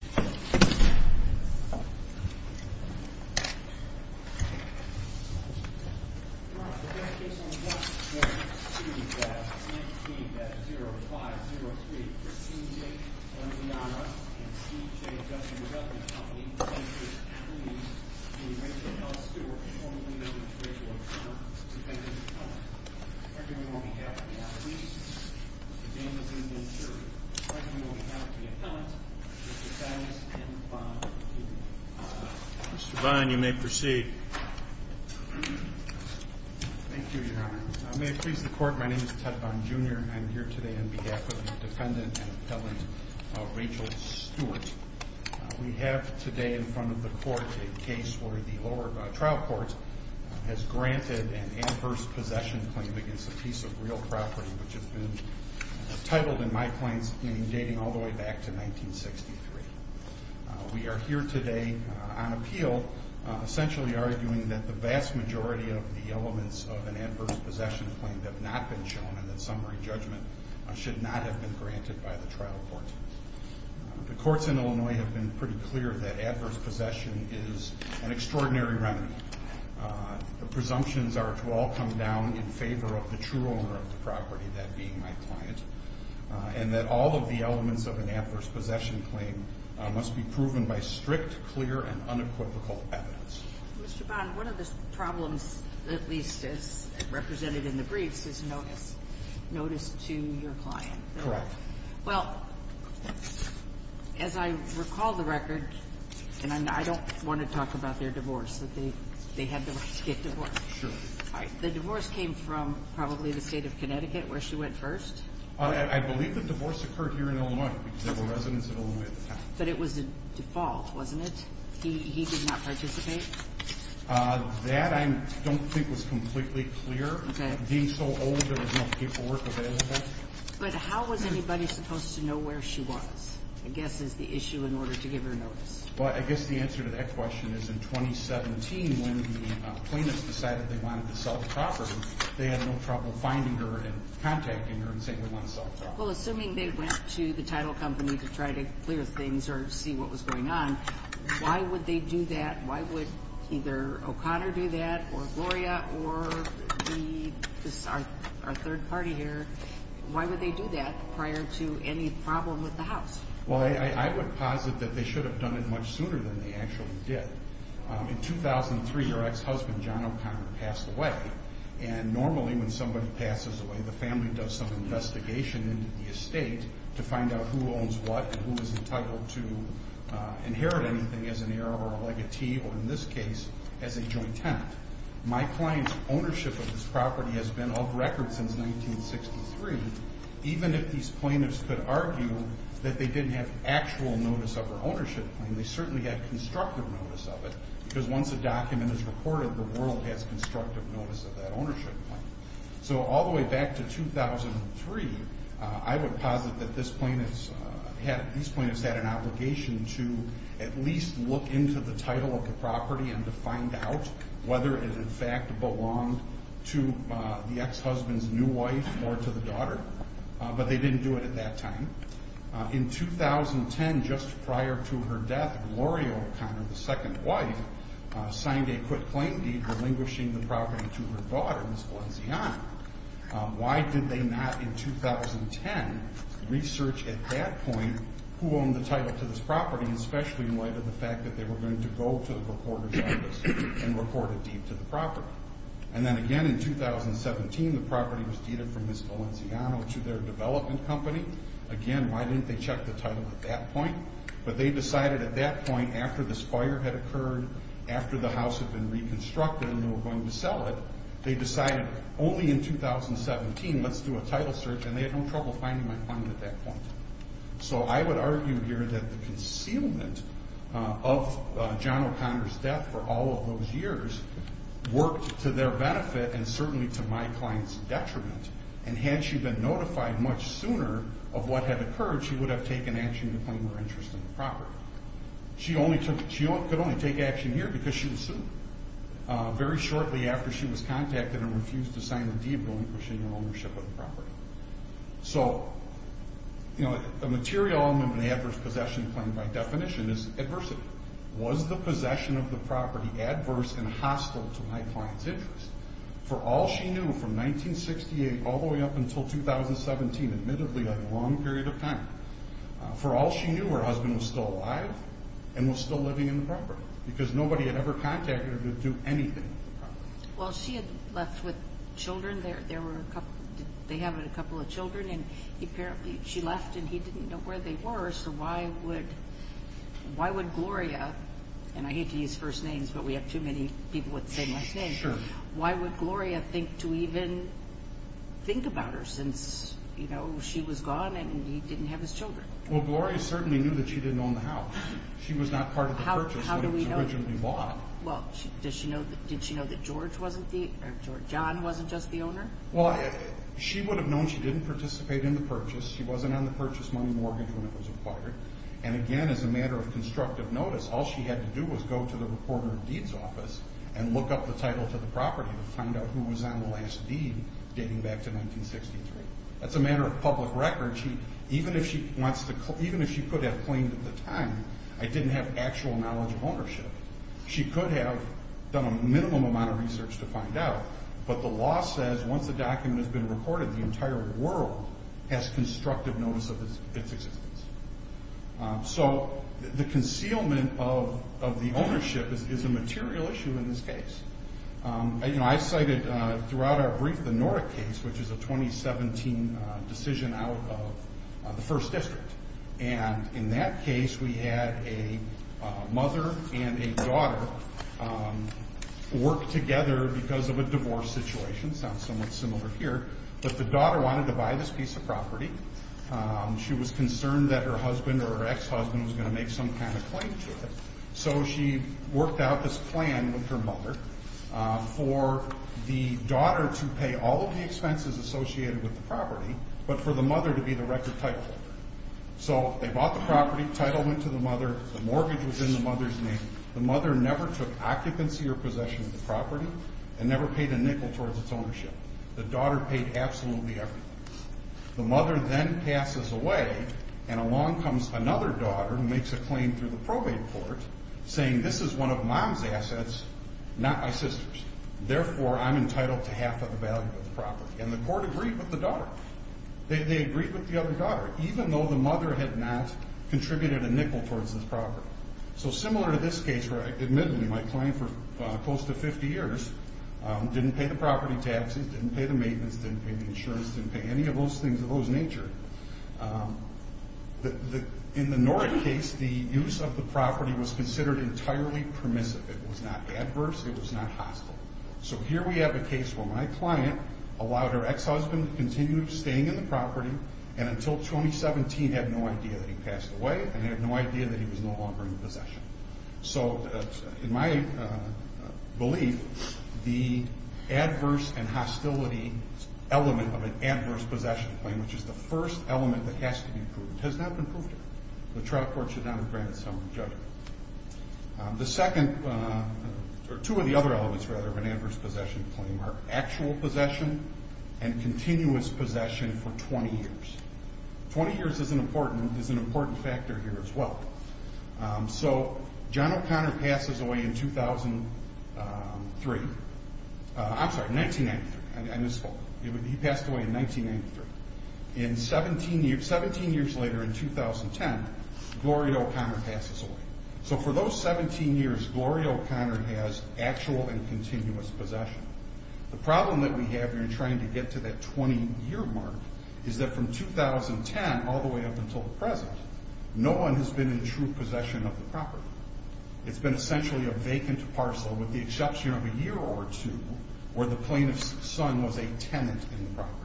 0503-CJ-RBI and C.J. W. W. Company, plaintiff's attorneys, and Rachel L. Stewart, formerly known as Rachel O'Connor, defendant's attorneys. Mr. Vine, you may proceed. Thank you, Your Honor. May it please the Court, my name is Ted Vine, Jr., and I'm here today on behalf of the defendant and appellant, Rachel Stewart. We have today in front of the Court a case where the lower trial court has granted an adverse possession claim against a piece of real property which has been titled in my claim's name dating all the way back to 1963. We are here today on appeal essentially arguing that the vast majority of the elements of an adverse possession claim have not been shown and that summary judgment should not have been granted by the trial court. The courts in Illinois have been pretty clear that adverse possession is an extraordinary remedy. The presumptions are to all come down in favor of the true owner of the property, that being my client, and that all of the elements of an adverse possession claim must be proven by strict, clear, and unequivocal evidence. Mr. Vine, one of the problems, at least as represented in the briefs, is notice to your client. Correct. Well, as I recall the record, and I don't want to talk about their divorce, that they had to get divorced. Sure. The divorce came from probably the state of Connecticut where she went first? I believe the divorce occurred here in Illinois because there were residents in Illinois at the time. But it was a default, wasn't it? He did not participate? That I don't think was completely clear. Okay. Being so old, there was no paperwork available. But how was anybody supposed to know where she was, I guess, is the issue in order to give her notice. Well, I guess the answer to that question is in 2017 when the plaintiffs decided they wanted to sell the property, they had no trouble finding her and contacting her and saying they wanted to sell the property. Well, assuming they went to the title company to try to clear things or see what was going on, why would they do that? Why would either O'Connor do that or Gloria or our third party here, why would they do that prior to any problem with the house? Well, I would posit that they should have done it much sooner than they actually did. In 2003, her ex-husband, John O'Connor, passed away. And normally when somebody passes away, the family does some investigation into the estate to find out who owns what and who is entitled to inherit anything as an heir or a legatee or, in this case, as a joint tenant. My client's ownership of this property has been off record since 1963, even if these plaintiffs could argue that they didn't have actual notice of her ownership claim. They certainly had constructive notice of it because once a document is reported, the world has constructive notice of that ownership claim. So all the way back to 2003, I would posit that these plaintiffs had an obligation to at least look into the title of the property and to find out whether it in fact belonged to the ex-husband's new wife or to the daughter. But they didn't do it at that time. In 2010, just prior to her death, Gloria O'Connor, the second wife, signed a quitclaim deed relinquishing the property to her daughter, Ms. Valenciano. Why did they not in 2010 research at that point who owned the title to this property, especially in light of the fact that they were going to go to the reporter's office and report a deed to the property? And then again in 2017, the property was deeded from Ms. Valenciano to their development company. Again, why didn't they check the title at that point? But they decided at that point, after this fire had occurred, after the house had been reconstructed and they were going to sell it, they decided only in 2017, let's do a title search, and they had no trouble finding my client at that point. So I would argue here that the concealment of John O'Connor's death for all of those years worked to their benefit and certainly to my client's detriment. And had she been notified much sooner of what had occurred, she would have taken action to claim her interest in the property. She could only take action here because she was sued very shortly after she was contacted and refused to sign a deed relinquishing her ownership of the property. So a material element of an adverse possession claim by definition is adversity. Was the possession of the property adverse and hostile to my client's interest? For all she knew from 1968 all the way up until 2017, admittedly a long period of time, for all she knew her husband was still alive and was still living in the property because nobody had ever contacted her to do anything with the property. Well she had left with children, they have a couple of children and apparently she left and he didn't know where they were, so why would Gloria, and I hate to use first names but we have too many people with the same last names, why would Gloria think to even think about her since she was gone and he didn't have his children? Well Gloria certainly knew that she didn't own the house. She was not part of the purchase when it was originally bought. Well did she know that George wasn't the, or John wasn't just the owner? Well she would have known she didn't participate in the purchase, she wasn't on the purchase money mortgage when it was acquired, and again as a matter of constructive notice all she had to do was go to the reporter of deeds office and look up the title to the property to find out who was on the last deed dating back to 1963. That's a matter of public record, even if she could have claimed at the time I didn't have actual knowledge of ownership, she could have done a minimum amount of research to find out, but the law says once the document has been recorded the entire world has constructive notice of its existence. So the concealment of the ownership is a material issue in this case. You know I cited throughout our brief the Nora case which is a 2017 decision out of the first district, and in that case we had a mother and a daughter work together because of a divorce situation, sounds somewhat similar here, but the daughter wanted to buy this piece of property. She was concerned that her husband or her ex-husband was going to make some kind of claim to it, so she worked out this plan with her mother for the daughter to pay all of the expenses associated with the property, but for the mother to be the record title holder. So they bought the property, title went to the mother, the mortgage was in the mother's name, the mother never took occupancy or possession of the property and never paid a nickel towards its ownership. The daughter paid absolutely everything. The mother then passes away, and along comes another daughter who makes a claim through the probate court saying this is one of mom's assets, not my sister's, therefore I'm entitled to half of the value of the property, and the court agreed with the daughter. They agreed with the other daughter, even though the mother had not contributed a nickel towards this property. So similar to this case where I admitted to my claim for close to 50 years, didn't pay the property taxes, didn't pay the maintenance, didn't pay the insurance, didn't pay any of those things of those nature, in the Norick case the use of the property was considered entirely permissive. It was not adverse, it was not hostile. So here we have a case where my client allowed her ex-husband to continue staying in the property and until 2017 had no idea that he passed away and had no idea that he was no longer in possession. So in my belief, the adverse and hostility element of an adverse possession claim, which is the first element that has to be proved, has not been proved yet. The trial court should not have granted some judgment. The second, or two of the other elements, rather, of an adverse possession claim are actual possession and continuous possession for 20 years. 20 years is an important factor here as well. So John O'Connor passes away in 2003. I'm sorry, 1993. I misspoke. He passed away in 1993. And 17 years later, in 2010, Gloria O'Connor passes away. So for those 17 years, Gloria O'Connor has actual and continuous possession. The problem that we have here in trying to get to that 20-year mark is that from 2010 all the way up until the present, no one has been in true possession of the property. It's been essentially a vacant parcel with the exception of a year or two where the plaintiff's son was a tenant in the property.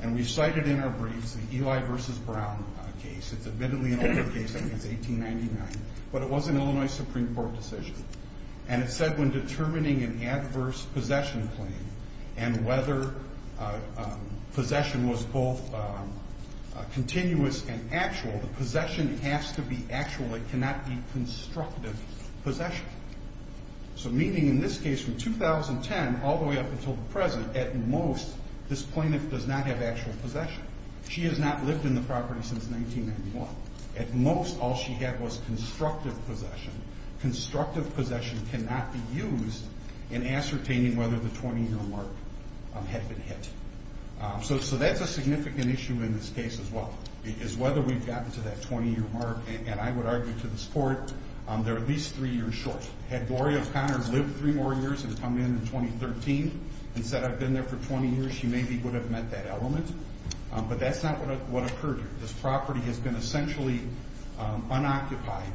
And we cited in our briefs the Eli v. Brown case. It's admittedly an older case. I think it's 1899. But it was an Illinois Supreme Court decision. And it said when determining an adverse possession claim and whether possession was both continuous and actual, the possession has to be actual. It cannot be constructive possession. So meaning in this case from 2010 all the way up until the present, at most this plaintiff does not have actual possession. She has not lived in the property since 1991. At most all she had was constructive possession. Constructive possession cannot be used in ascertaining whether the 20-year mark had been hit. So that's a significant issue in this case as well is whether we've gotten to that 20-year mark. And I would argue to this Court they're at least three years short. Had Gloria O'Connor lived three more years and come in in 2013 and said I've been there for 20 years, she maybe would have met that element. But that's not what occurred here. This property has been essentially unoccupied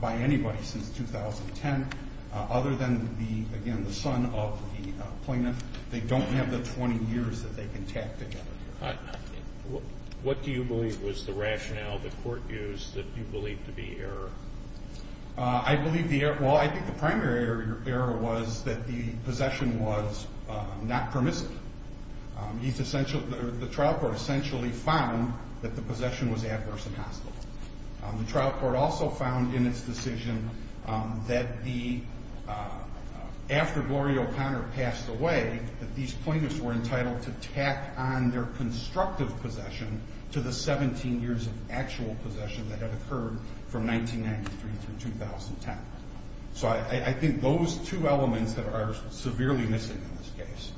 by anybody since 2010 other than, again, the son of the plaintiff. They don't have the 20 years that they can tack together. What do you believe was the rationale the Court used that you believe to be error? I believe the error, well, I think the primary error was that the possession was not permissive. The trial court essentially found that the possession was adverse and hospitable. The trial court also found in its decision that after Gloria O'Connor passed away that these plaintiffs were entitled to tack on their constructive possession to the 17 years of actual possession that had occurred from 1993 through 2010. So I think those two elements that are severely missing in this case.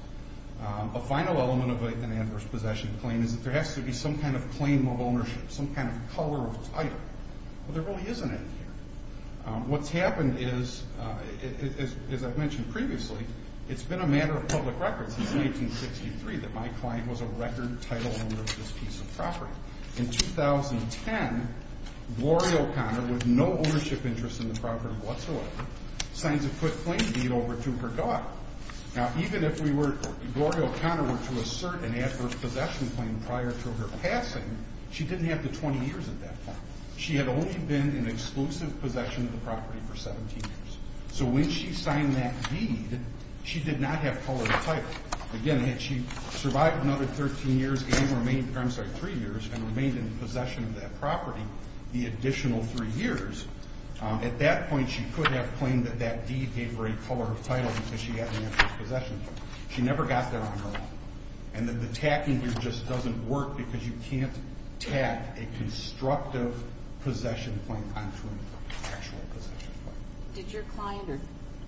A final element of an adverse possession claim is that there has to be some kind of claim of ownership, some kind of color of title. Well, there really isn't any here. What's happened is, as I've mentioned previously, it's been a matter of public record since 1963 that my client was a record title owner of this piece of property. In 2010, Gloria O'Connor, with no ownership interest in the property whatsoever, signs a quick claim deed over to her daughter. Now, even if we were, Gloria O'Connor were to assert an adverse possession claim prior to her passing, she didn't have the 20 years at that point. She had only been in exclusive possession of the property for 17 years. So when she signed that deed, she did not have color of title. Again, had she survived another 13 years and remained, I'm sorry, 3 years and remained in possession of that property the additional 3 years, at that point she could have claimed that that deed gave her a color of title because she had an adverse possession claim. She never got there on her own. And the tacking here just doesn't work because you can't tack a constructive possession claim onto an actual possession claim. Did your client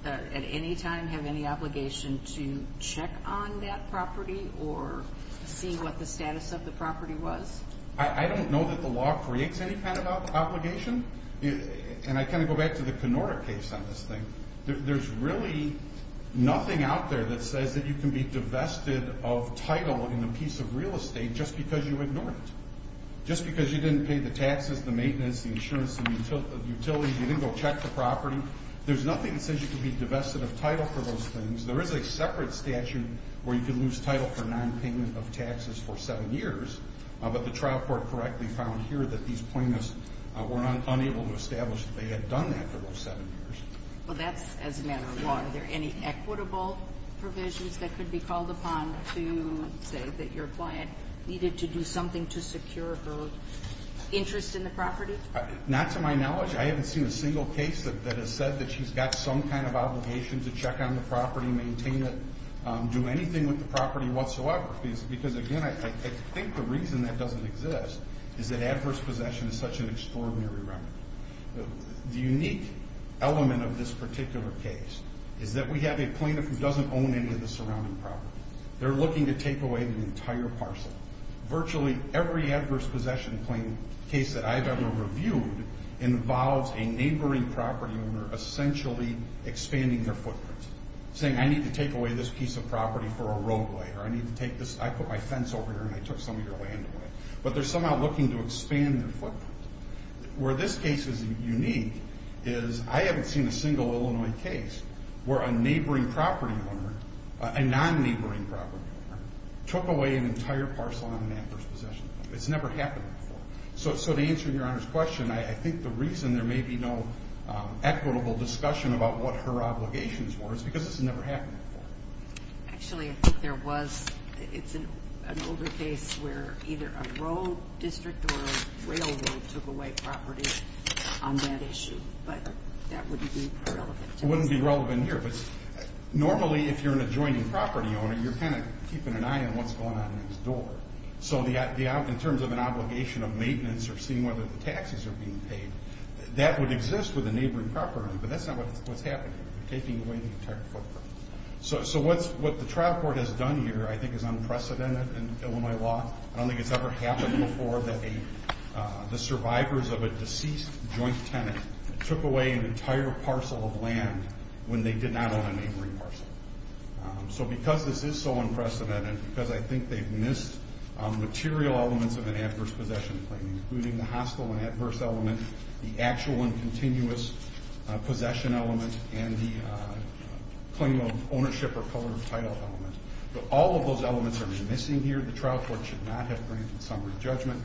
at any time have any obligation to check on that property or see what the status of the property was? I don't know that the law creates any kind of obligation. And I kind of go back to the Kenora case on this thing. There's really nothing out there that says that you can be divested of title in a piece of real estate just because you ignored it, just because you didn't pay the taxes, the maintenance, the insurance, the utilities, you didn't go check the property. There's nothing that says you can be divested of title for those things. There is a separate statute where you can lose title for nonpayment of taxes for 7 years, but the trial court correctly found here that these plaintiffs were unable to establish that they had done that for those 7 years. Well, that's as a matter of law. Are there any equitable provisions that could be called upon to say that your client needed to do something to secure her interest in the property? Not to my knowledge. I haven't seen a single case that has said that she's got some kind of obligation to check on the property, maintain it, do anything with the property whatsoever because, again, I think the reason that doesn't exist is that adverse possession is such an extraordinary remedy. The unique element of this particular case is that we have a plaintiff who doesn't own any of the surrounding property. They're looking to take away the entire parcel. Virtually every adverse possession case that I've ever reviewed involves a neighboring property owner essentially expanding their footprint, saying I need to take away this piece of property for a roadway or I put my fence over here and I took some of your land away. But they're somehow looking to expand their footprint. Where this case is unique is I haven't seen a single Illinois case where a neighboring property owner, a non-neighboring property owner, took away an entire parcel on an adverse possession. It's never happened before. So to answer Your Honor's question, I think the reason there may be no equitable discussion about what her obligations were is because it's never happened before. Actually, I think there was. It's an older case where either a road district or a railroad took away property on that issue. But that wouldn't be relevant. It wouldn't be relevant here. But normally if you're an adjoining property owner, you're kind of keeping an eye on what's going on next door. So in terms of an obligation of maintenance or seeing whether the taxes are being paid, that would exist with a neighboring property owner. But that's not what's happening here. They're taking away the entire footprint. So what the trial court has done here I think is unprecedented in Illinois law. I don't think it's ever happened before that the survivors of a deceased joint tenant took away an entire parcel of land when they did not own a neighboring parcel. So because this is so unprecedented, because I think they've missed material elements of an adverse possession claim, including the hostile and adverse element, the actual and continuous possession element, and the claim of ownership or color of title element. But all of those elements are missing here. The trial court should not have granted summary judgment.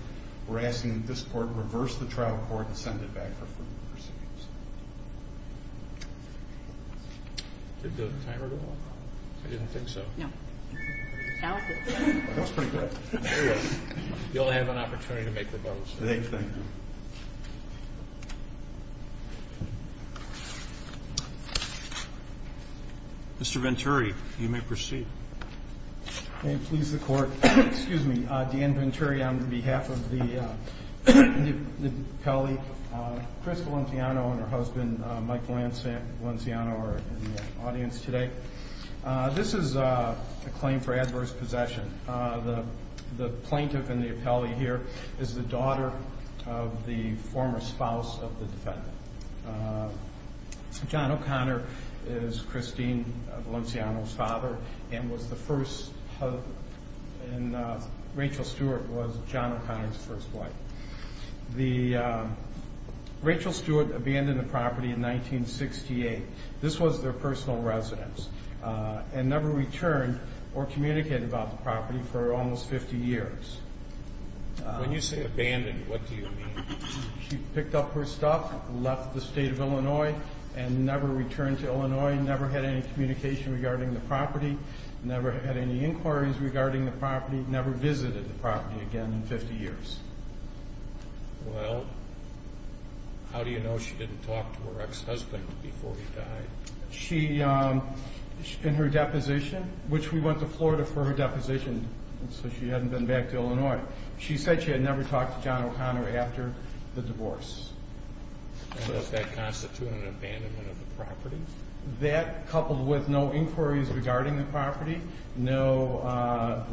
We're asking that this court reverse the trial court and send it back for further proceedings. Did the timer go off? I didn't think so. No. You'll have an opportunity to make the votes. Thank you. Mr. Venturi, you may proceed. May it please the Court. Excuse me. Dan Venturi on behalf of the appellee. Chris Valenciano and her husband Mike Valenciano are in the audience today. This is a claim for adverse possession. The plaintiff in the appellee here is the daughter of the former spouse of the defendant. John O'Connor is Christine Valenciano's father and was the first husband. And Rachel Stewart was John O'Connor's first wife. Rachel Stewart abandoned the property in 1968. This was their personal residence and never returned or communicated about the property for almost 50 years. When you say abandoned, what do you mean? She picked up her stuff, left the state of Illinois, and never returned to Illinois, never had any communication regarding the property, never had any inquiries regarding the property, never visited the property again in 50 years. Well, how do you know she didn't talk to her ex-husband before he died? In her deposition, which we went to Florida for her deposition so she hadn't been back to Illinois. She said she had never talked to John O'Connor after the divorce. Does that constitute an abandonment of the property? That, coupled with no inquiries regarding the property, never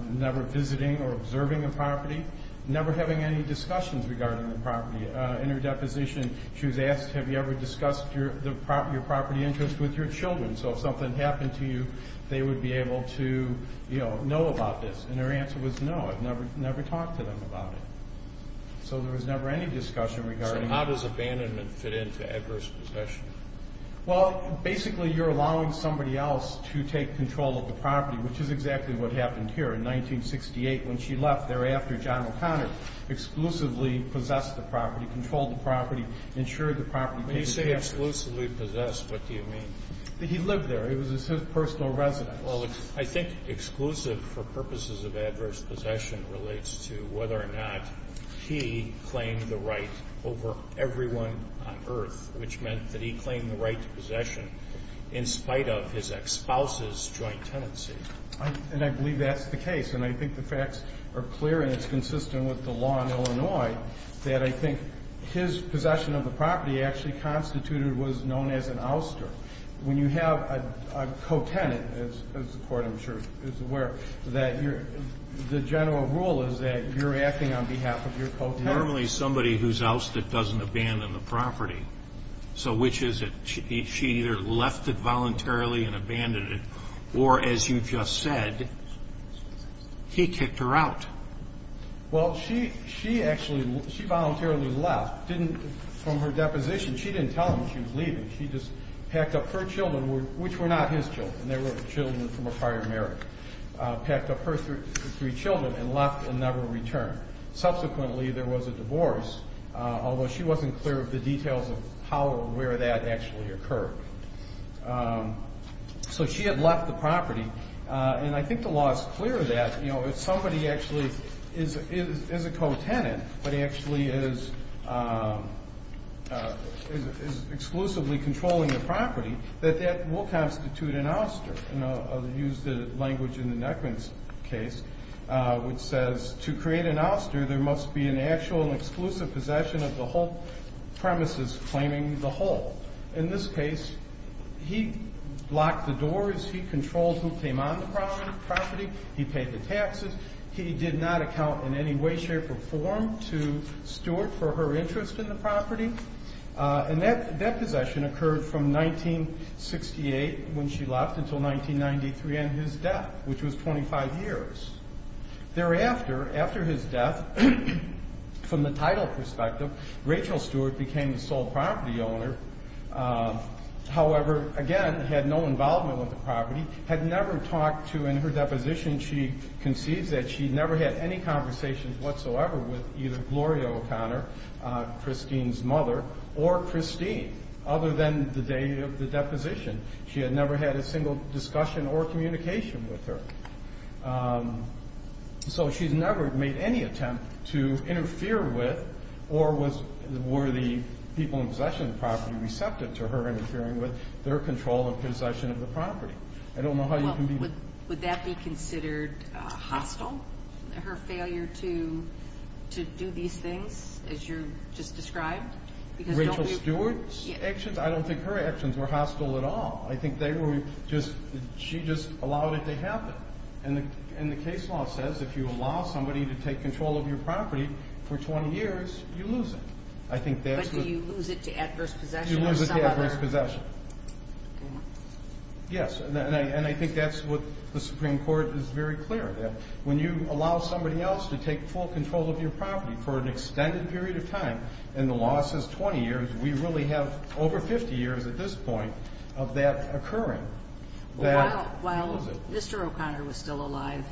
visiting or observing the property, never having any discussions regarding the property. In her deposition, she was asked, have you ever discussed your property interests with your children? So if something happened to you, they would be able to know about this. And her answer was no, I've never talked to them about it. So there was never any discussion regarding it. So how does abandonment fit into adverse possession? Well, basically you're allowing somebody else to take control of the property, which is exactly what happened here in 1968 when she left there after John O'Connor exclusively possessed the property, controlled the property, insured the property. When you say exclusively possessed, what do you mean? He lived there. It was his personal residence. Well, I think exclusive for purposes of adverse possession relates to whether or not he claimed the right over everyone on earth, which meant that he claimed the right to possession in spite of his ex-spouse's joint tenancy. And I believe that's the case, and I think the facts are clear, and it's consistent with the law in Illinois, that I think his possession of the property actually constituted what is known as an ouster. When you have a co-tenant, as the Court, I'm sure, is aware, that the general rule is that you're acting on behalf of your co-tenant. Normally somebody who's ousted doesn't abandon the property. So which is it? She either left it voluntarily and abandoned it, or as you just said, he kicked her out. Well, she actually voluntarily left. From her deposition, she didn't tell him she was leaving. She just packed up her children, which were not his children, they were children from a prior marriage, packed up her three children and left and never returned. Subsequently, there was a divorce, although she wasn't clear of the details of how or where that actually occurred. So she had left the property. And I think the law is clear that if somebody actually is a co-tenant but actually is exclusively controlling the property, that that will constitute an ouster. I'll use the language in the Neckman's case, which says, to create an ouster there must be an actual and exclusive possession of the whole premises claiming the whole. In this case, he locked the doors, he controlled who came on the property, he paid the taxes, he did not account in any way, shape, or form to Stewart for her interest in the property. And that possession occurred from 1968, when she left, until 1993 and his death, which was 25 years. Thereafter, after his death, from the title perspective, Rachel Stewart became the sole property owner, however, again, had no involvement with the property, had never talked to, in her deposition, she concedes that she never had any conversations whatsoever with either Gloria O'Connor, Christine's mother, or Christine, other than the day of the deposition. She had never had a single discussion or communication with her. So she's never made any attempt to interfere with or were the people in possession of the property receptive to her interfering with their control of possession of the property. I don't know how you can be... Well, would that be considered hostile? Her failure to do these things, as you just described? Rachel Stewart's actions? I don't think her actions were hostile at all. I think they were just, she just allowed it to happen. And the case law says if you allow somebody to take control of your property for 20 years, you lose it. I think that's what... But do you lose it to adverse possession or some other... Yes, and I think that's what the Supreme Court is very clear that when you allow somebody else to take full control of your property for an extended period of time, and the law says 20 years, we really have over 50 years at this point of that occurring. While Mr. O'Connor was still alive,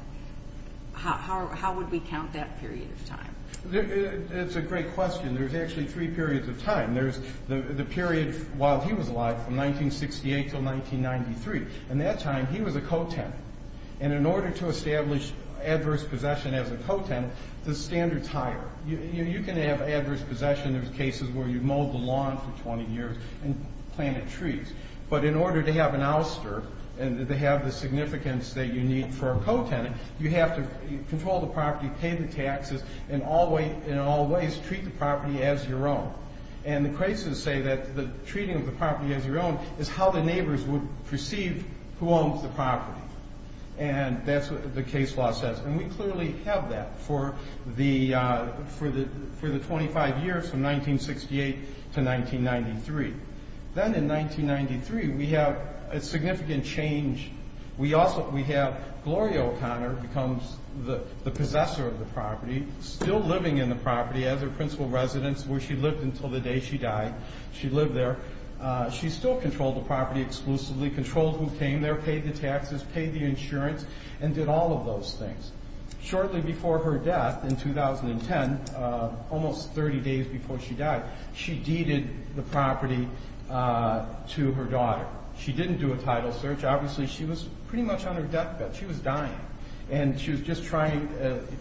how would we count that period of time? It's a great question. There's actually three periods of time. There's the period while he was alive from 1968 until 1993. At that time, he was a co-tenant. And in order to establish adverse possession as a co-tenant, the standard's higher. You can have adverse possession in cases where you've mowed the lawn for 20 years and planted trees, but in order to have an ouster and to have the significance that you need for a co-tenant, you have to control the property, pay the taxes, and in all ways treat the property as your own. And the cases say that the treating of the property as your own is how the neighbors would perceive who owns the property. And that's what the case law says. And we clearly have that for the 25 years from 1968 to 1993. Then in 1993, we have a significant change. We have Gloria O'Connor becomes the possessor of the property, still living in the property as her principal residence where she lived until the day she died. She lived there. She still controlled the property exclusively, controlled who came there, paid the taxes, paid the insurance, and did all of those things. Shortly before her death in 2010, almost 30 days before she died, she deeded the property to her daughter. She didn't do a title search. Obviously, she was pretty much on her deathbed. She was dying. And she was just trying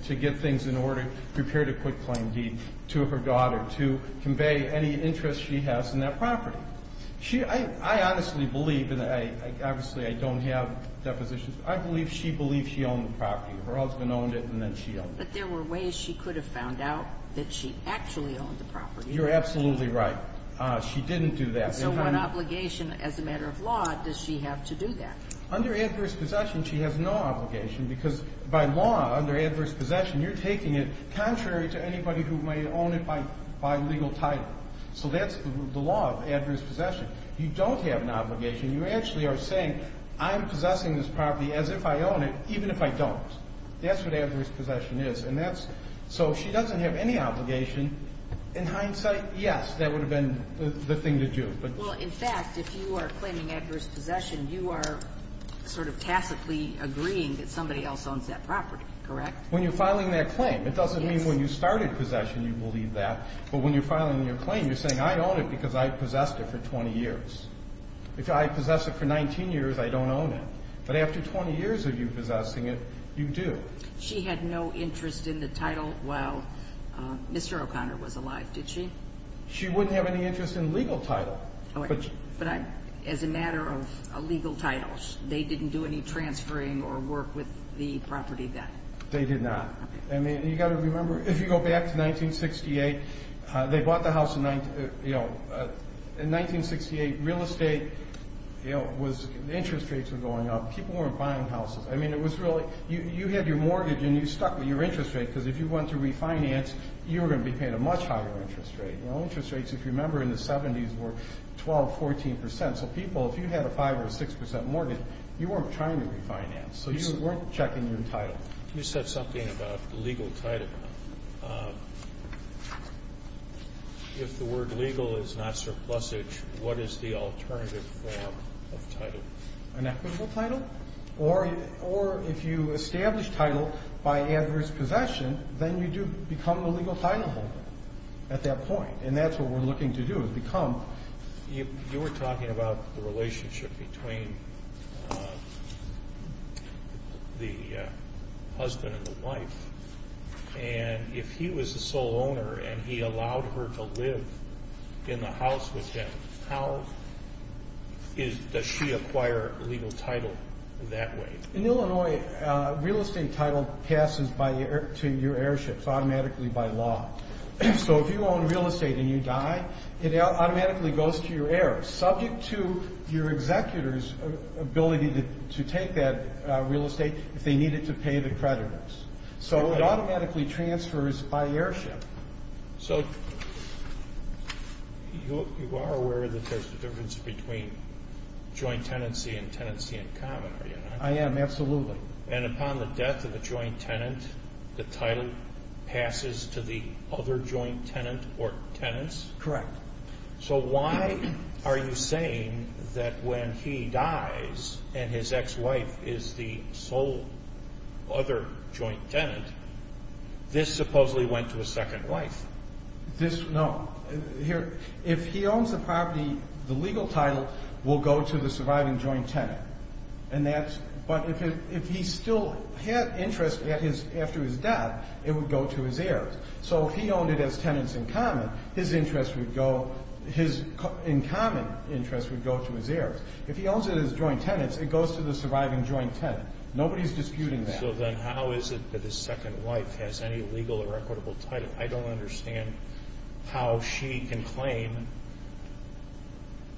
to get things in order, prepared a quick claim deed to her daughter to convey any interest she has in that property. I honestly believe, and obviously I don't have depositions, I believe she believed she owned the property. Her husband owned it and then she owned it. But there were ways she could have found out that she actually owned the property. You're absolutely right. She didn't do that. So what obligation as a matter of law does she have to do that? Under adverse possession, she has no obligation because by law, under adverse possession, you're taking it contrary to anybody who may own it by legal title. So that's the law of adverse possession. You don't have an obligation. You actually are saying I'm possessing this property as if I own it, even if I don't. That's what adverse possession is. And that's so she doesn't have any obligation. In hindsight, yes, that would have been the thing to do. Well, in fact, if you are claiming adverse possession, you are sort of tacitly agreeing that somebody else owns that property, correct? When you're filing that claim, it doesn't mean when you started possession you believe that. But when you're filing your claim, you're saying I own it because I've possessed it for 20 years. If I've possessed it for 19 years, I don't own it. But after 20 years of you possessing it, you do. She had no interest in the title while Mr. O'Connor was alive, did she? She wouldn't have any interest in legal title. But as a matter of legal titles, they didn't do any transferring or work with the property then? They did not. I mean, you've got to remember, if you go back to 1968, they bought the house in 1968. Real estate was the interest rates were going up. People weren't buying houses. I mean, it was really you had your mortgage and you stuck with your interest rate because if you went to refinance, you were going to be paying a much higher interest rate. The interest rates, if you remember, in the 70s were 12%, 14%. So people, if you had a 5% or 6% mortgage, you weren't trying to refinance. So you weren't checking your title. You said something about legal title. If the word legal is not surplusage, what is the alternative form of title? An equitable title? Or if you establish title by adverse possession, then you do become the legal title holder at that point, and that's what we're looking to do is become. You were talking about the relationship between the husband and the wife, and if he was the sole owner and he allowed her to live in the house with him, how does she acquire legal title that way? In Illinois, real estate title passes to your heirships automatically by law. So if you own real estate and you die, it automatically goes to your heirs, subject to your executor's ability to take that real estate if they needed to pay the creditors. So it automatically transfers by heirship. So you are aware that there's a difference between joint tenancy and tenancy in common, are you not? I am, absolutely. And upon the death of a joint tenant, the title passes to the other joint tenant or tenants? Correct. So why are you saying that when he dies and his ex-wife is the sole other joint tenant, this supposedly went to a second wife? No. If he owns the property, the legal title will go to the surviving joint tenant. But if he still had interest after his death, it would go to his heirs. So if he owned it as tenants in common, his in common interest would go to his heirs. If he owns it as joint tenants, it goes to the surviving joint tenant. Nobody's disputing that. So then how is it that his second wife has any legal or equitable title? I don't understand how she can claim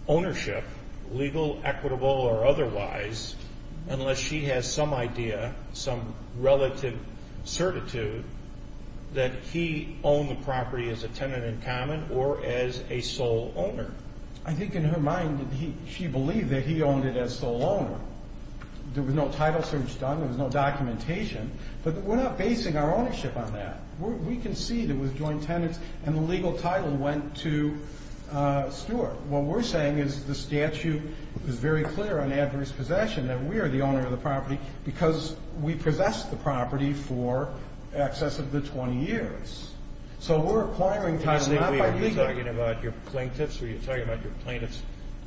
ownership, legal, equitable, or otherwise, unless she has some idea, some relative certitude, that he owned the property as a tenant in common or as a sole owner. I think in her mind, she believed that he owned it as sole owner. There was no title search done. There was no documentation. But we're not basing our ownership on that. We can see that it was joint tenants and the legal title went to Stewart. What we're saying is the statute is very clear on adverse possession that we are the owner of the property because we possessed the property for excess of the 20 years. So we're acquiring title not by legal. Are you talking about your plaintiffs or are you talking about your plaintiffs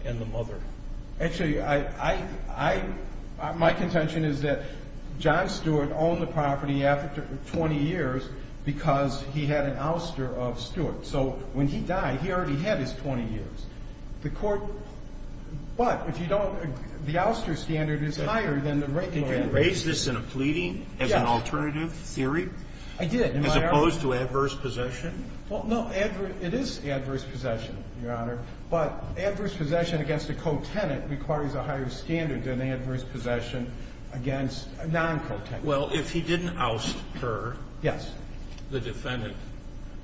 and the mother? Actually, my contention is that John Stewart owned the property after 20 years because he had an ouster of Stewart. So when he died, he already had his 20 years. The court, but if you don't, the ouster standard is higher than the regular. Did you raise this in a pleading as an alternative theory? I did. As opposed to adverse possession? Well, no, it is adverse possession, Your Honor. But adverse possession against a co-tenant requires a higher standard than adverse possession against a non-co-tenant. Well, if he didn't oust her, the defendant,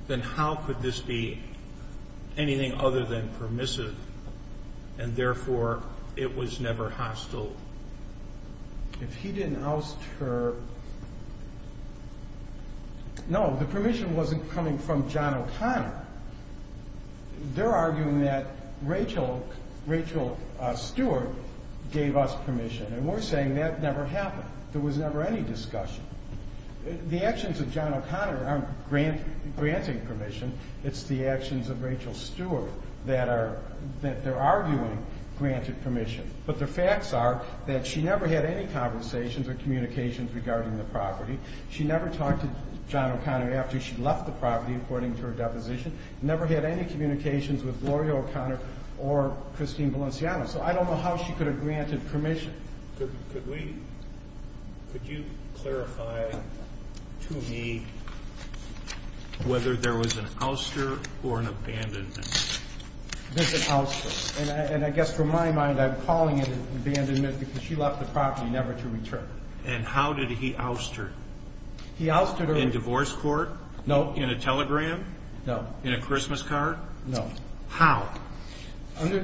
then how could this be anything other than permissive and therefore it was never hostile? If he didn't oust her, no, the permission wasn't coming from John O'Connor. They're arguing that Rachel Stewart gave us permission, and we're saying that never happened. There was never any discussion. The actions of John O'Connor aren't granting permission. It's the actions of Rachel Stewart that they're arguing granted permission. But the facts are that she never had any conversations or communications regarding the property. She never talked to John O'Connor after she left the property, according to her deposition. Never had any communications with Gloria O'Connor or Christine Valenciano. So I don't know how she could have granted permission. Could you clarify to me whether there was an ouster or an abandonment? There's an ouster. And I guess from my mind, I'm calling it abandonment because she left the property never to return. And how did he ouster? He ousted her. In divorce court? No. In a telegram? No. In a Christmas card? No. How? Under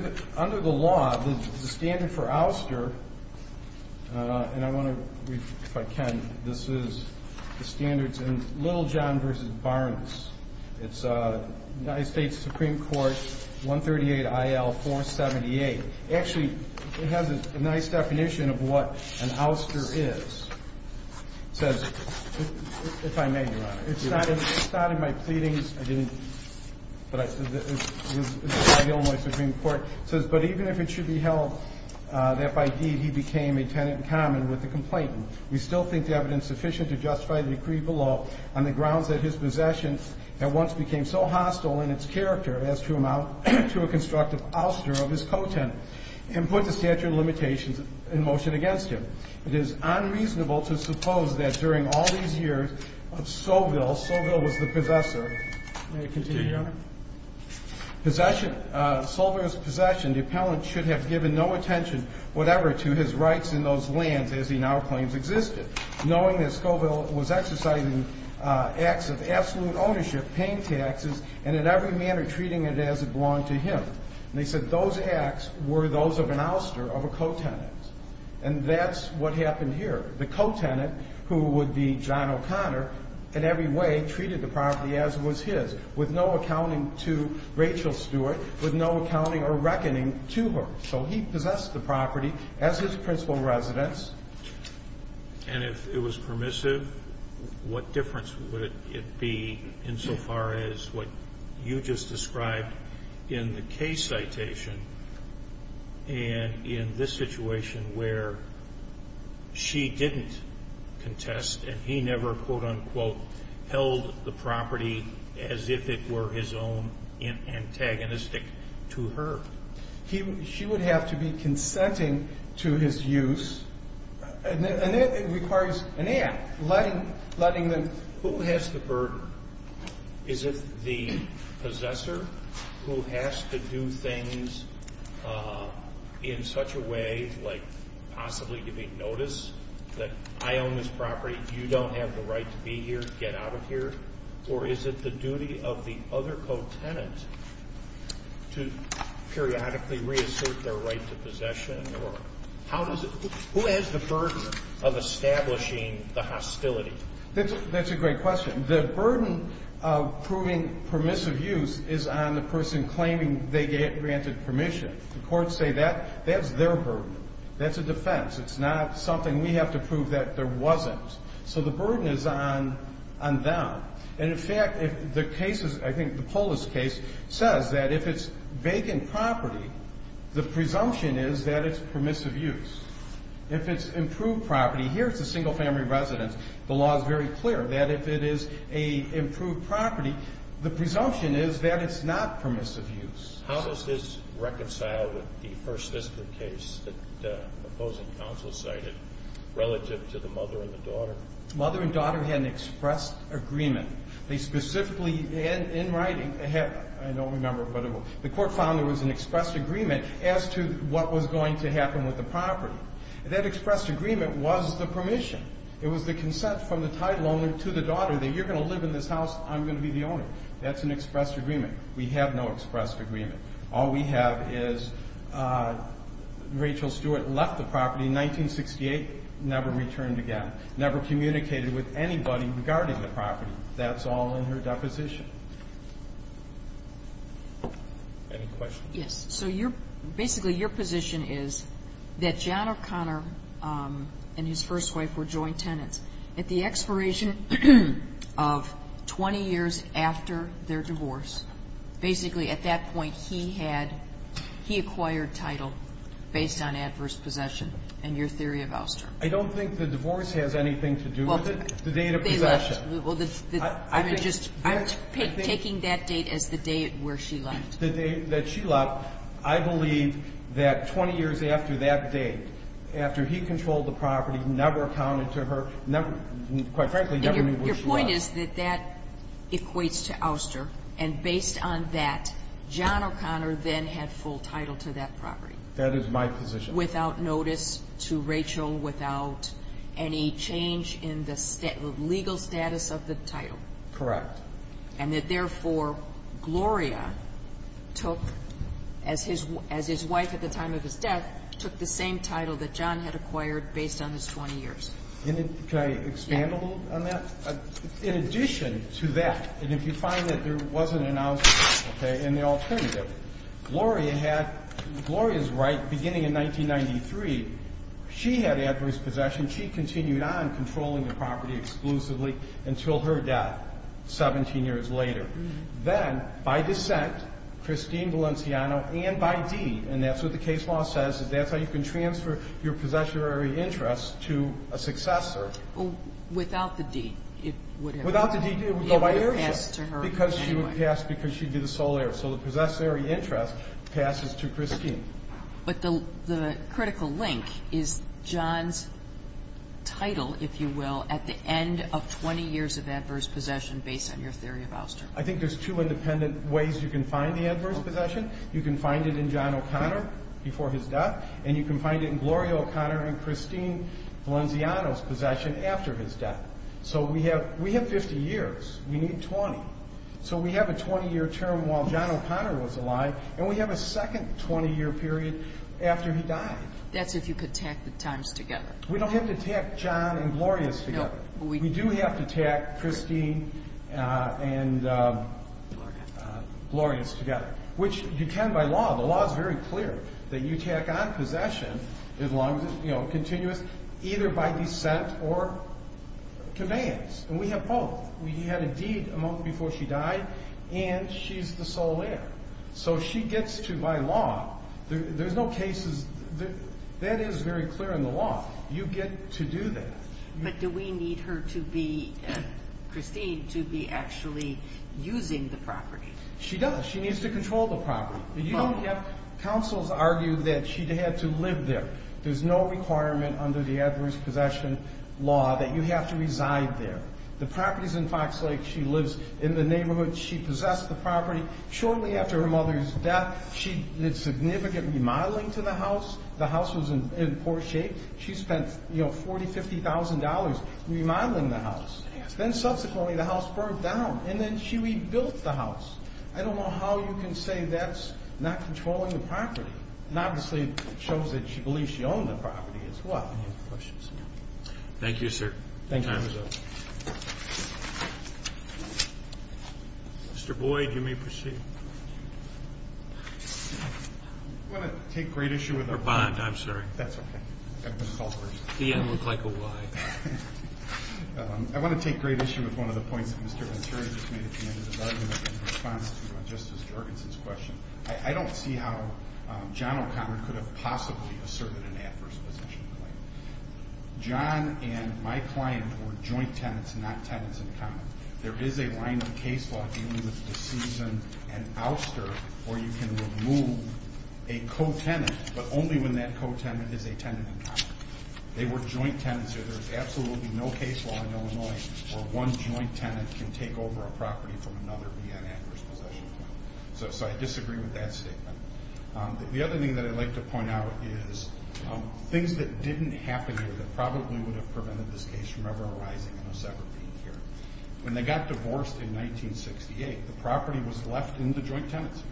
the law, the standard for ouster, and I want to read, if I can, this is the standards in Little John v. Barnes. It's United States Supreme Court 138 IL 478. Actually, it has a nice definition of what an ouster is. It says, if I may, Your Honor. It's not in my pleadings. I didn't. It's by Illinois Supreme Court. It says, but even if it should be held that by deed he became a tenant in common with the complainant, we still think the evidence sufficient to justify the decree below on the grounds that his possession at once became so hostile in its character as to amount to a constructive ouster of his co-tenant, and put the statute of limitations in motion against him. It is unreasonable to suppose that during all these years of Soville, Soville was the possessor. May it continue, Your Honor? Possession, Soville's possession, the appellant should have given no attention whatever to his rights in those lands as he now claims existed, knowing that Scoville was exercising acts of absolute ownership, paying taxes, and in every manner treating it as it belonged to him. And they said those acts were those of an ouster of a co-tenant. And that's what happened here. The co-tenant, who would be John O'Connor, in every way treated the property as it was his, with no accounting to Rachel Stewart, with no accounting or reckoning to her. So he possessed the property as his principal residence. And if it was permissive, what difference would it be insofar as what you just described in the case citation and in this situation where she didn't contest and he never, quote-unquote, held the property as if it were his own and antagonistic to her? She would have to be consenting to his use. And that requires an act, letting them. Who has the burden? Is it the possessor who has to do things in such a way, like possibly giving notice that I own this property, you don't have the right to be here, get out of here? Or is it the duty of the other co-tenant to periodically reassert their right to possession? Who has the burden of establishing the hostility? That's a great question. The burden of proving permissive use is on the person claiming they granted permission. The courts say that's their burden. That's a defense. It's not something we have to prove that there wasn't. So the burden is on them. And, in fact, the case is, I think, the Polis case, says that if it's vacant property, the presumption is that it's permissive use. If it's improved property, here it's a single-family residence. The law is very clear that if it is an improved property, the presumption is that it's not permissive use. How does this reconcile with the first-victim case that opposing counsel cited relative to the mother and the daughter? Mother and daughter had an expressed agreement. They specifically, in writing, I don't remember what it was. The court found there was an expressed agreement as to what was going to happen with the property. That expressed agreement was the permission. It was the consent from the title owner to the daughter that you're going to live in this house, I'm going to be the owner. That's an expressed agreement. We have no expressed agreement. All we have is Rachel Stewart left the property in 1968, never returned again, never communicated with anybody regarding the property. That's all in her deposition. Any questions? Yes. So basically your position is that John O'Connor and his first wife were joint tenants. At the expiration of 20 years after their divorce, basically at that point he had, he acquired title based on adverse possession and your theory of ouster. I don't think the divorce has anything to do with it. The date of possession. I'm just taking that date as the day where she left. The day that she left, I believe that 20 years after that date, after he controlled the property, never accounted to her, never, quite frankly, never knew where she was. Your point is that that equates to ouster, and based on that John O'Connor then had full title to that property. That is my position. Without notice to Rachel, without any change in the legal status of the title. Correct. And that therefore Gloria took, as his wife at the time of his death, took the same title that John had acquired based on his 20 years. Can I expand a little on that? In addition to that, and if you find that there wasn't an ouster, okay, and the alternative, Gloria's right, beginning in 1993, she had adverse possession. She continued on controlling the property exclusively until her death 17 years later. Then by descent, Christine Valenciano and by deed, and that's what the case law says, that's how you can transfer your possessory interest to a successor. Without the deed, it would have passed to her anyway. Because she would pass because she'd be the sole heir. So the possessory interest passes to Christine. But the critical link is John's title, if you will, at the end of 20 years of adverse possession based on your theory of ouster. I think there's two independent ways you can find the adverse possession. You can find it in John O'Connor before his death, and you can find it in Gloria O'Connor and Christine Valenciano's possession after his death. So we have 50 years. We need 20. So we have a 20-year term while John O'Connor was alive, and we have a second 20-year period after he died. That's if you could tack the times together. We don't have to tack John and Gloria's together. We do have to tack Christine and Gloria's together. Which you can by law. The law is very clear that you tack on possession as long as it's continuous either by descent or commands. And we have both. We had a deed a month before she died, and she's the sole heir. So she gets to, by law, there's no cases. That is very clear in the law. You get to do that. But do we need her to be, Christine, to be actually using the property? She does. She needs to control the property. You don't have counsels argue that she had to live there. There's no requirement under the adverse possession law that you have to reside there. The property is in Fox Lake. She lives in the neighborhood. She possessed the property. Shortly after her mother's death, she did significant remodeling to the house. The house was in poor shape. She spent, you know, $40,000, $50,000 remodeling the house. Then subsequently the house burned down, and then she rebuilt the house. I don't know how you can say that's not controlling the property. And obviously it shows that she believes she owned the property as well. Any other questions? Thank you, sir. Thank you. Mr. Boyd, you may proceed. I'm going to take great issue with our bond. Our bond, I'm sorry. That's okay. The end looked like a Y. I want to take great issue with one of the points that Mr. Venturi just made at the end of his argument in response to Justice Jorgensen's question. I don't see how John O'Connor could have possibly asserted an adverse possession claim. John and my client were joint tenants, not tenants in common. There is a line of case law dealing with the season and ouster where you can remove a co-tenant, but only when that co-tenant is a tenant in common. They were joint tenants here. There is absolutely no case law in Illinois where one joint tenant can take over a property from another being an adverse possession claim. So I disagree with that statement. The other thing that I'd like to point out is things that didn't happen here that probably would have prevented this case from ever arising in a separate being here. When they got divorced in 1968, the property was left in the joint tenancy.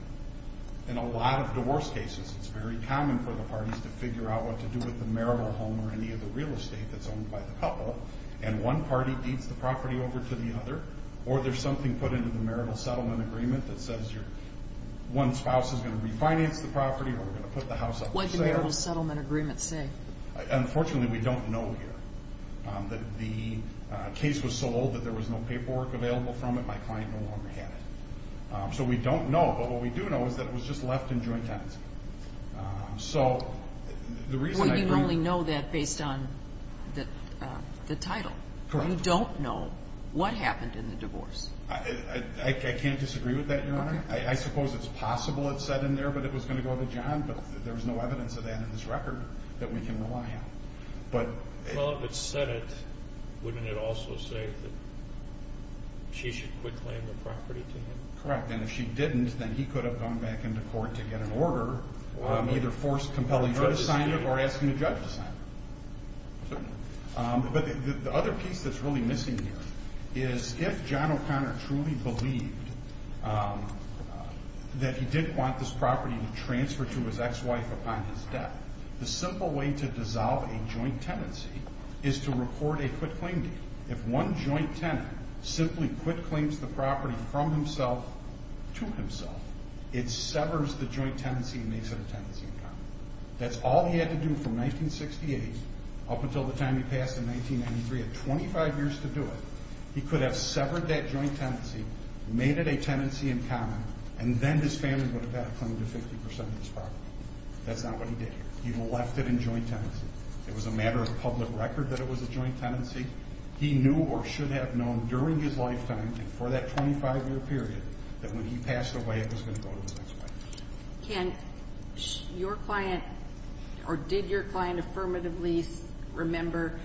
In a lot of divorce cases, it's very common for the parties to figure out what to do with the marital home or any of the real estate that's owned by the couple, and one party beats the property over to the other, or there's something put into the marital settlement agreement that says one spouse is going to refinance the property or we're going to put the house up for sale. What did the marital settlement agreement say? Unfortunately, we don't know here. The case was sold, but there was no paperwork available from it. My client no longer had it. So we don't know, but what we do know is that it was just left in joint tenancy. Wouldn't you only know that based on the title? Correct. You don't know what happened in the divorce. I can't disagree with that, Your Honor. I suppose it's possible it said in there that it was going to go to John, but there's no evidence of that in this record that we can rely on. Well, if it said it, wouldn't it also say that she should quit claiming the property to him? Correct. And if she didn't, then he could have gone back into court to get an order or either force compelling her to sign it or asking the judge to sign it. But the other piece that's really missing here is if John O'Connor truly believed that he didn't want this property to transfer to his ex-wife upon his death, the simple way to dissolve a joint tenancy is to record a quit claim deed. If one joint tenant simply quit claims the property from himself to himself, it severs the joint tenancy and makes it a tenancy in common. That's all he had to do from 1968 up until the time he passed in 1993. He had 25 years to do it. He could have severed that joint tenancy, made it a tenancy in common, and then his family would have had a claim to 50% of this property. That's not what he did. He left it in joint tenancy. It was a matter of public record that it was a joint tenancy. He knew or should have known during his lifetime and for that 25-year period that when he passed away it was going to go to his ex-wife. Can your client or did your client affirmatively remember?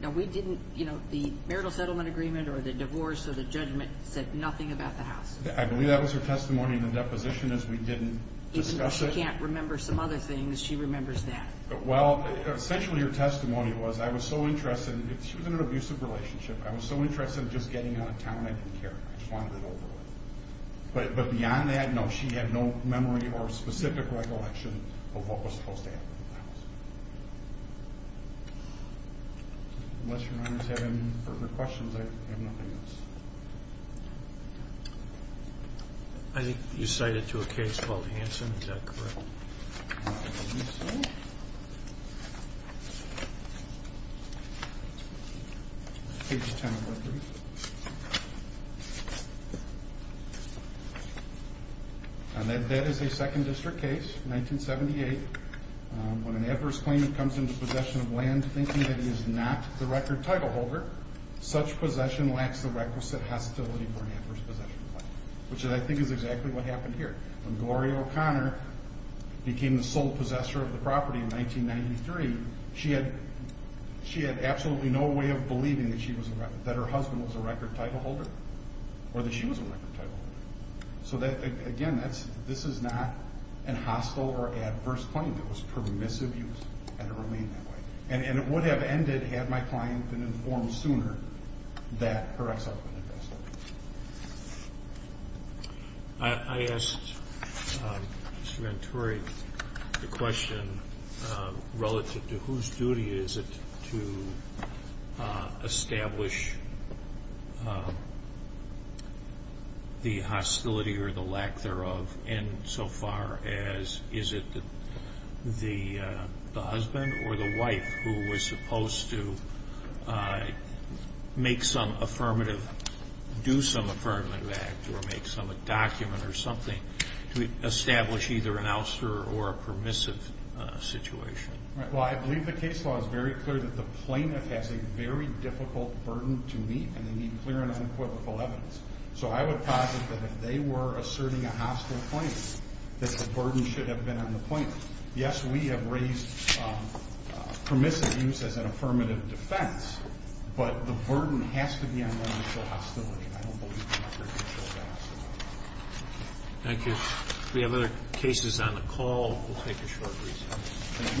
Now, we didn't, you know, the marital settlement agreement or the divorce or the judgment said nothing about the house. I believe that was her testimony in the deposition is we didn't discuss it. She can't remember some other things. She remembers that. Well, essentially her testimony was I was so interested in it. She was in an abusive relationship. I was so interested in just getting out of town I didn't care. I just wanted it over with. But beyond that, no, she had no memory or specific recollection of what was supposed to happen with the house. Unless your honors have any further questions, I have nothing else. I think you cited to a case called Hanson. Is that correct? Let me see. Page 10 of my brief. That is a second district case, 1978. When an adverse claimant comes into possession of land thinking that he is not the record title holder, such possession lacks the requisite hostility for an adverse possession claimant, which I think is exactly what happened here. When Gloria O'Connor became the sole possessor of the property in 1993, she had absolutely no way of believing that her husband was a record title holder or that she was a record title holder. So, again, this is not a hostile or adverse claim. It was permissive use, and it remained that way. And it would have ended had my client been informed sooner that her ex-husband had passed away. I asked Mr. Venturi the question relative to whose duty is it to establish the hostility or the lack thereof insofar as is it the husband or the wife who was supposed to make some affirmative, do some affirmative act or make some document or something to establish either an ouster or a permissive situation? Well, I believe the case law is very clear that the plaintiff has a very difficult burden to meet, and they need clear and unequivocal evidence. So I would posit that if they were asserting a hostile claim, that the burden should have been on the plaintiff. Yes, we have raised permissive use as an affirmative defense, but the burden has to be on the hostility. I don't believe the record can show that. Thank you. If we have other cases on the call, we'll take a short recess.